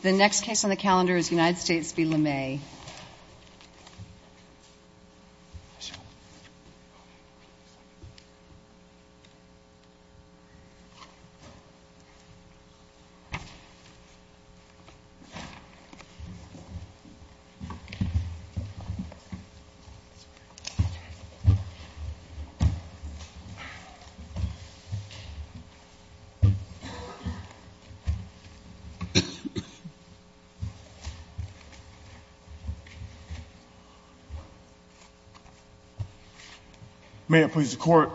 The next case on the calendar is United States v. LeMay. May it please the Court,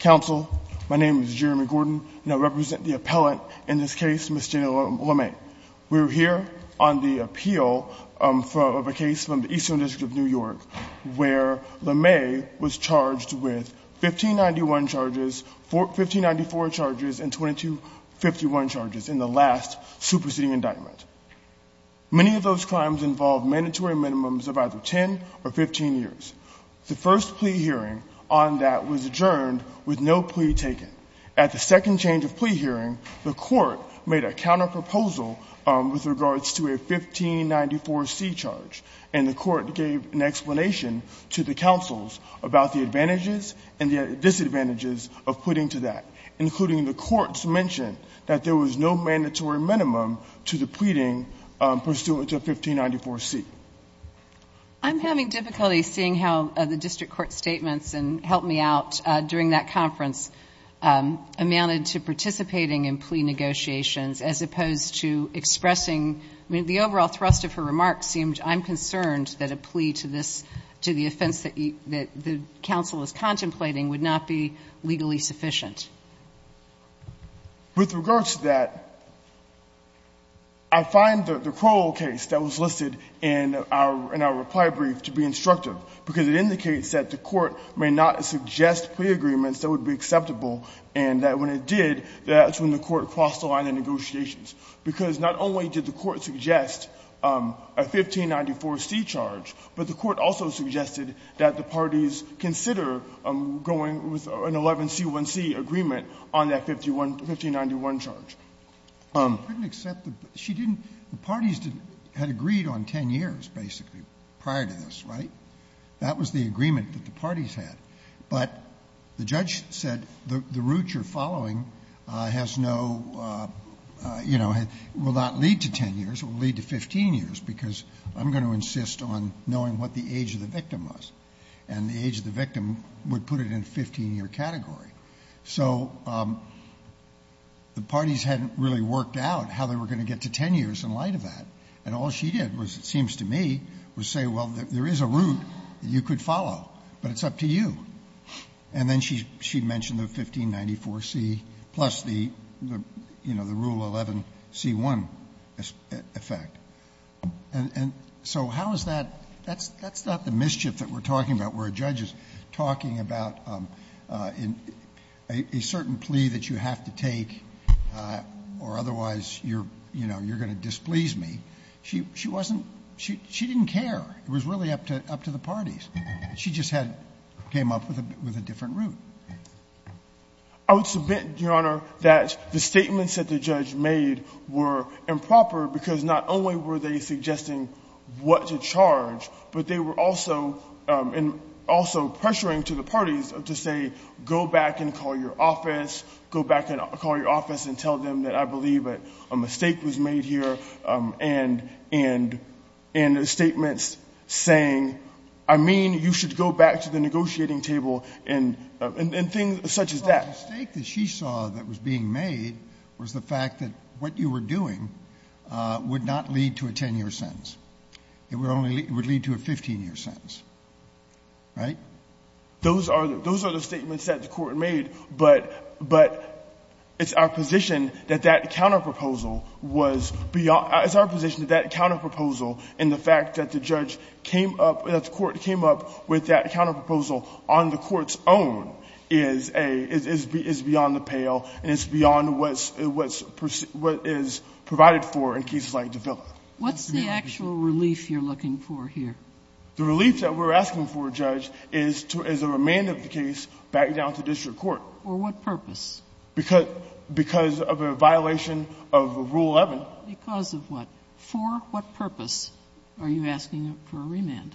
Counsel, my name is Jeremy Gordon, and I represent the appellant in this case, Ms. Janelle LeMay. We're here on the appeal of a case from the Eastern District of New York where LeMay was Many of those crimes involved mandatory minimums of either 10 or 15 years. The first plea hearing on that was adjourned with no plea taken. At the second change of plea hearing, the Court made a counterproposal with regards to a 1594C charge, and the Court gave an explanation to the counsels about the advantages and the disadvantages of pleading to that, including the Court's mention that there was no mandatory minimum to the pleading pursuant to a 1594C. I'm having difficulty seeing how the district court statements, and help me out, during that conference, amounted to participating in plea negotiations as opposed to expressing – I mean, the overall thrust of her remarks seemed, I'm concerned that a plea to this – to the offense that the counsel is contemplating would not be legally sufficient. With regards to that, I find the Crowell case that was listed in our reply brief to be instructive, because it indicates that the Court may not suggest plea agreements that would be acceptable, and that when it did, that's when the Court crossed the line in negotiations, because not only did the Court suggest a 1594C charge, but the Court also suggested that the parties consider going with an 11C1C agreement on that 1591 charge. Roberts, she didn't – the parties had agreed on 10 years, basically, prior to this, right? That was the agreement that the parties had. But the judge said the route you're following has no, you know, will not lead to 10 years. It will lead to 15 years, because I'm going to insist on knowing what the age of the victim was, and the age of the victim would put it in a 15-year category. So the parties hadn't really worked out how they were going to get to 10 years in light of that, and all she did was, it seems to me, was say, well, there is a route that you could follow, but it's up to you. And then she mentioned the 1594C plus the, you know, the Rule 11C1 effect. And so how is that – that's not the mischief that we're talking about, where a judge is talking about a certain plea that you have to take, or otherwise, you're, you know, you're going to displease me. She wasn't – she didn't care. It was really up to the parties. She just had – came up with a different route. I would submit, Your Honor, that the statements that the judge made were improper, because not only were they suggesting what to charge, but they were also – and also pressuring to the parties to say, go back and call your office, go back and call your office and tell them that I believe that a mistake was made here, and statements saying, I mean, you should go back to the negotiating table, and things such as that. The mistake that she saw that was being made was the fact that what you were doing would not lead to a 10-year sentence. It would only – it would lead to a 15-year sentence, right? Those are the statements that the Court made, but it's our position that that counterproposal was beyond – it's our position that that counterproposal and the fact that the judge came up – that the Court came up with that counterproposal on the Court's own is a – is beyond the pale, and it's beyond what's – what is provided for in cases like the Villa. Sotomayor, what's the actual relief you're looking for here? The relief that we're asking for, Judge, is to – is a remand of the case back down to district court. For what purpose? Because – because of a violation of Rule 11. Because of what? For what purpose are you asking for a remand?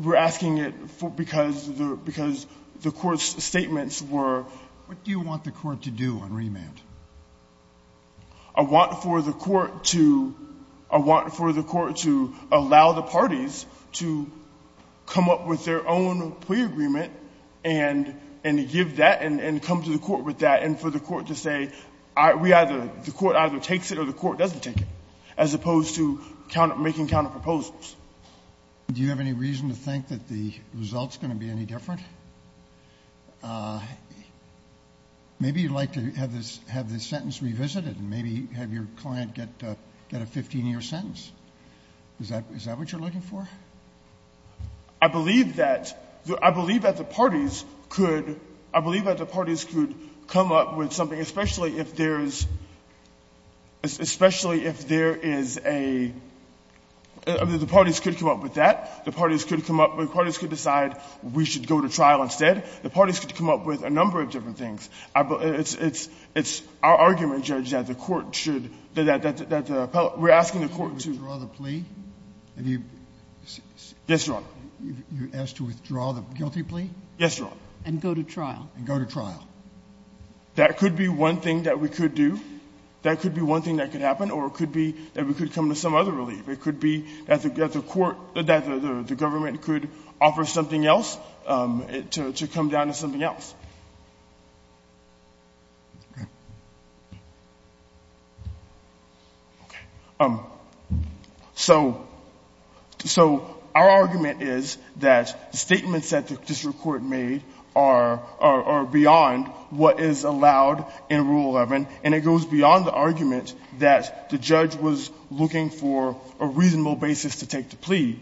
We're asking it for – because the – because the Court's statements were – What do you want the Court to do on remand? I want for the Court to – I want for the Court to allow the parties to come up with their own plea agreement and – and give that and – and come to the Court with that and for the Court to say, we either – the Court either takes it or the Court doesn't take it, as opposed to counter – making counterproposals. Do you have any reason to think that the result's going to be any different? Maybe you'd like to have this – have this sentence revisited and maybe have your client get – get a 15-year sentence. Is that – is that what you're looking for? I believe that – I believe that the parties could – I believe that the parties could come up with something, especially if there's – especially if there is a – I mean, the parties could come up with that. The parties could come up – the parties could decide we should go to trial instead. The parties could come up with a number of different things. It's – it's – it's our argument, Judge, that the Court should – that the – that the – we're asking the Court to – Withdraw the plea? Have you – Yes, Your Honor. You asked to withdraw the guilty plea? Yes, Your Honor. And go to trial? And go to trial. That could be one thing that we could do. That could be one thing that could happen, or it could be that we could come to some other relief. It could be that the – that the Court – that the government could offer something else, to come down to something else. Okay. Okay. So – so our argument is that the statements that the district court made are – are beyond what is allowed in Rule 11, and it goes beyond the argument that the judge was looking for a reasonable basis to take the plea.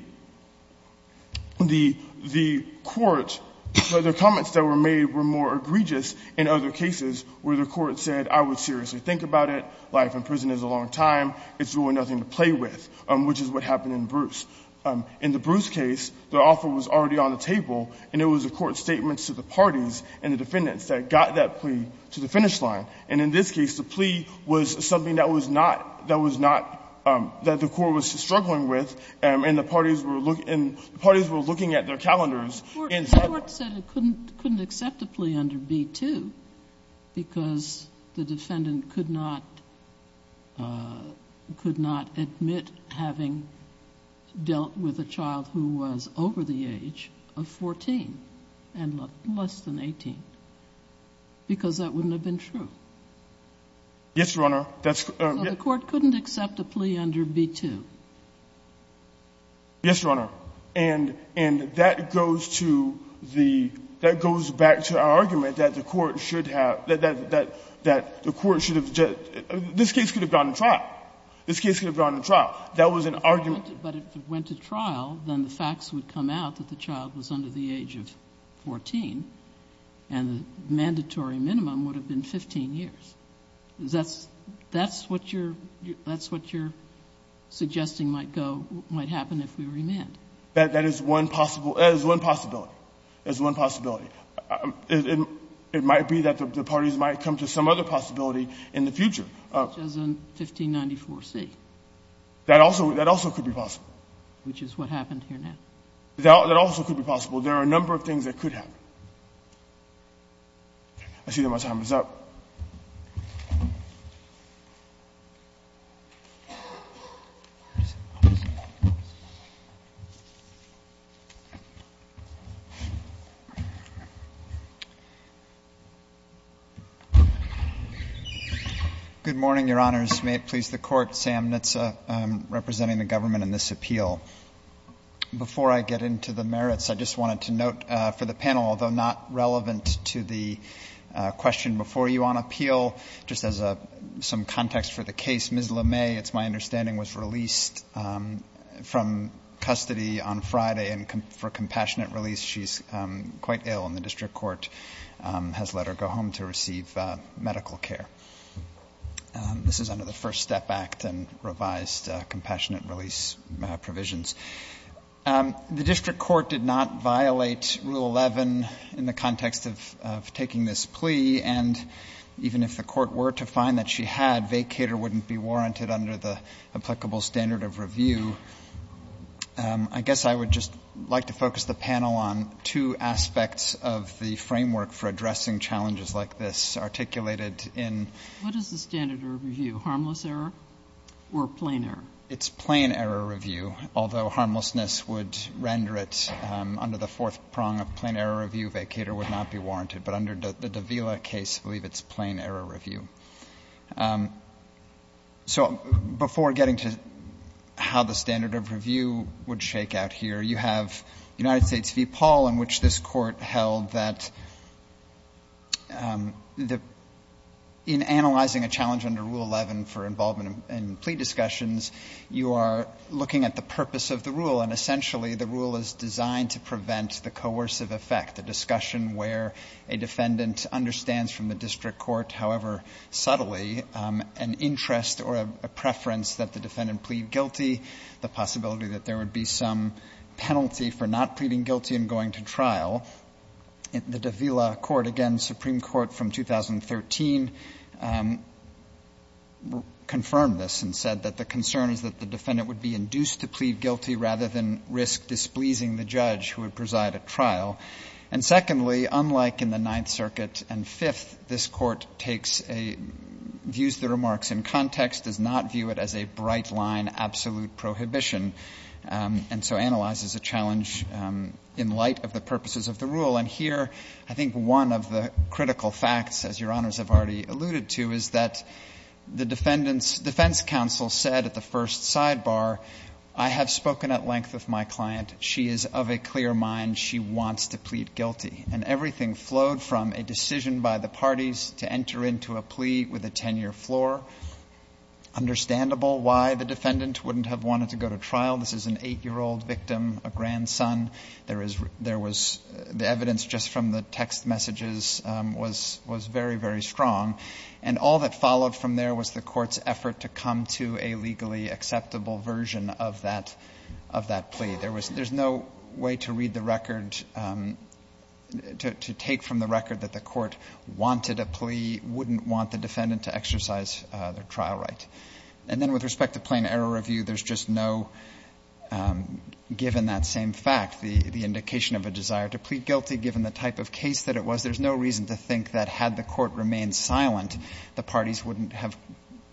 The – the court – the comments that were made were more egregious in other cases where the court said, I would seriously think about it. Life in prison is a long time. It's really nothing to play with, which is what happened in Bruce. In the Bruce case, the offer was already on the table, and it was a court statement to the parties and the defendants that got that plea to the finish line. And in this case, the plea was something that was not – that was not – that the court was struggling with, and the parties were looking – and the parties were looking at their calendars and said – The court said it couldn't – couldn't accept a plea under B-2 because the defendant could not – could not admit having dealt with a child who was over the age of 14 and less than 18, because that wouldn't have been true. Yes, Your Honor. That's – So the court couldn't accept a plea under B-2. Yes, Your Honor. And – and that goes to the – that goes back to our argument that the court should have – that the court should have – this case could have gone to trial. This case could have gone to trial. That was an argument. But if it went to trial, then the facts would come out that the child was under the age of 14, and the mandatory minimum would have been 15 years. That's – that's what you're – that's what you're suggesting might go – might happen if we remand. That is one possible – that is one possibility. That is one possibility. It might be that the parties might come to some other possibility in the future. Such as in 1594C. That also – that also could be possible. Which is what happened here now. That also could be possible. There are a number of things that could happen. I see that my time is up. Good morning, Your Honors. May it please the Court. Sam Nitze representing the government in this appeal. Before I get into the merits, I just wanted to note for the panel, although not relevant to the question before you on appeal, just as a – some context for the case, Ms. LeMay, it's my understanding, was released from custody on Friday and for compassionate release. She's quite ill, and the district court has let her go home to receive medical care. This is under the First Step Act and revised compassionate release provisions. The district court did not violate Rule 11 in the context of taking this plea. And even if the court were to find that she had, vacator wouldn't be warranted under the applicable standard of review. I guess I would just like to focus the panel on two aspects of the framework for addressing challenges like this, articulated in... What is the standard of review? Harmless error or plain error? It's plain error review, although harmlessness would render it under the fourth prong of plain error review, vacator would not be warranted. But under the Davila case, I believe it's plain error review. So before getting to how the standard of review would shake out here, you have United States v. Paul, in which this court held that in analyzing a challenge under Rule 11 for involvement in plea discussions, you are looking at the purpose of the rule. And essentially, the rule is designed to prevent the coercive effect, the discussion where a defendant understands from the district court, however subtly, an interest or a preference that the defendant plead guilty, the possibility that there would be some penalty for not pleading guilty and going to trial. The Davila court, again, Supreme Court from 2013, confirmed this and said that the concern is that the defendant would be induced to plead guilty rather than risk displeasing the judge who would preside at trial. And secondly, unlike in the Ninth Circuit and Fifth, this court takes a — views the remarks in context, does not view it as a bright-line absolute prohibition and so analyzes a challenge in light of the purposes of the rule. And here, I think one of the critical facts, as Your Honors have already alluded to, is that the defendant's defense counsel said at the first sidebar, I have spoken at length with my client. She is of a clear mind. She wants to plead guilty. And everything flowed from a decision by the parties to enter into a plea with a defendant in your floor. Understandable why the defendant wouldn't have wanted to go to trial. This is an 8-year-old victim, a grandson. There is — there was — the evidence just from the text messages was — was very, very strong. And all that followed from there was the court's effort to come to a legally acceptable version of that — of that plea. There was — there's no way to read the record — to take from the record that the trial right. And then with respect to plain error review, there's just no — given that same fact, the indication of a desire to plead guilty, given the type of case that it was, there's no reason to think that had the court remained silent, the parties wouldn't have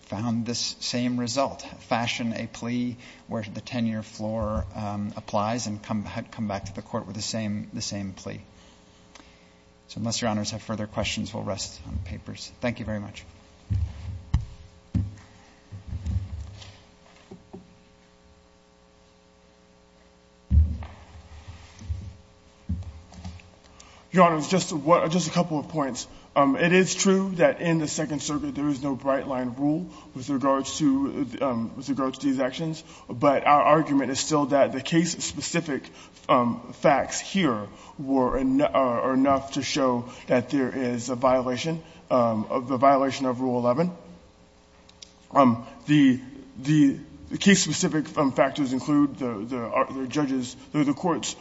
found this same result. Fashion a plea where the 10-year floor applies and come back to the court with the same — the same plea. So unless Your Honors have further questions, we'll rest on papers. Thank you very much. Your Honors, just a couple of points. It is true that in the Second Circuit there is no bright-line rule with regards to — with regards to these actions. But our argument is still that the case-specific facts here were — are enough to show that there is a violation — a violation of Rule 11. The — the case-specific factors include the judge's — the court's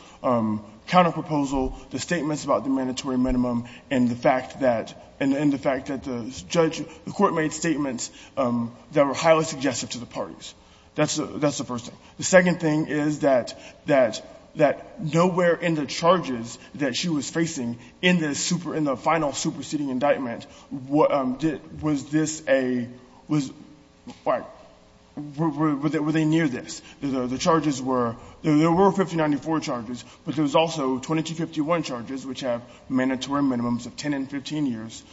counterproposal, the statements about the mandatory minimum, and the fact that — and the fact that the judge — the court made statements that were highly suggestive to the parties. That's the — that's the first thing. The second thing is that — that — that nowhere in the charges that she was facing in this super — in the final superseding indictment was this a — was — were they near this? The charges were — there were 5094 charges, but there's also 2251 charges, which have mandatory minimums of 10 and 15 years.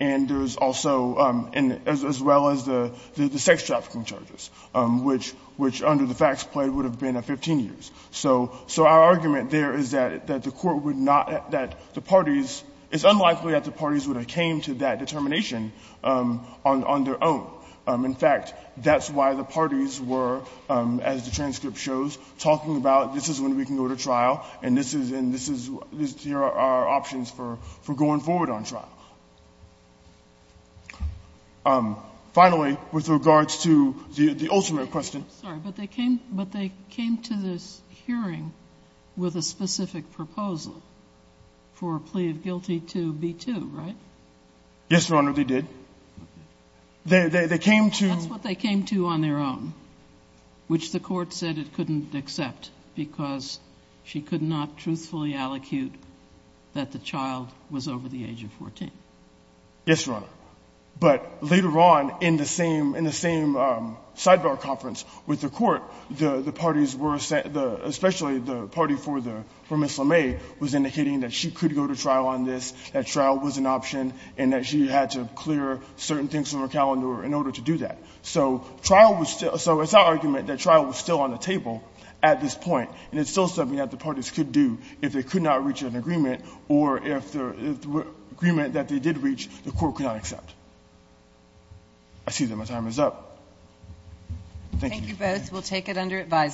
And there's also — and as well as the — the sex trafficking charges, which — which under the facts play would have been 15 years. So — so our argument there is that — that the court would not — that the parties — it's unlikely that the parties would have came to that determination on — on their own. In fact, that's why the parties were, as the transcript shows, talking about this is when we can go to trial, and this is — and this is — these are our options for — for going forward on trial. Finally, with regards to the — the ultimate question — I'm sorry, but they came — but they came to this hearing with a specific proposal for a plea of guilty to B-2, right? Yes, Your Honor, they did. Okay. They — they came to — That's what they came to on their own, which the court said it couldn't accept because she could not truthfully allocute that the child was over the age of 14. Yes, Your Honor. But later on, in the same — in the same sidebar conference with the court, the parties were — the — especially the party for the — for Ms. LeMay was indicating that she could go to trial on this, that trial was an option, and that she had to clear certain things from her calendar in order to do that. So trial was still — so it's our argument that trial was still on the table at this point, and it's still something that the parties could do if they could not reach an agreement or if the agreement that they did reach, the court could not accept. I see that my time is up. Thank you. Thank you both. We'll take it under advisement.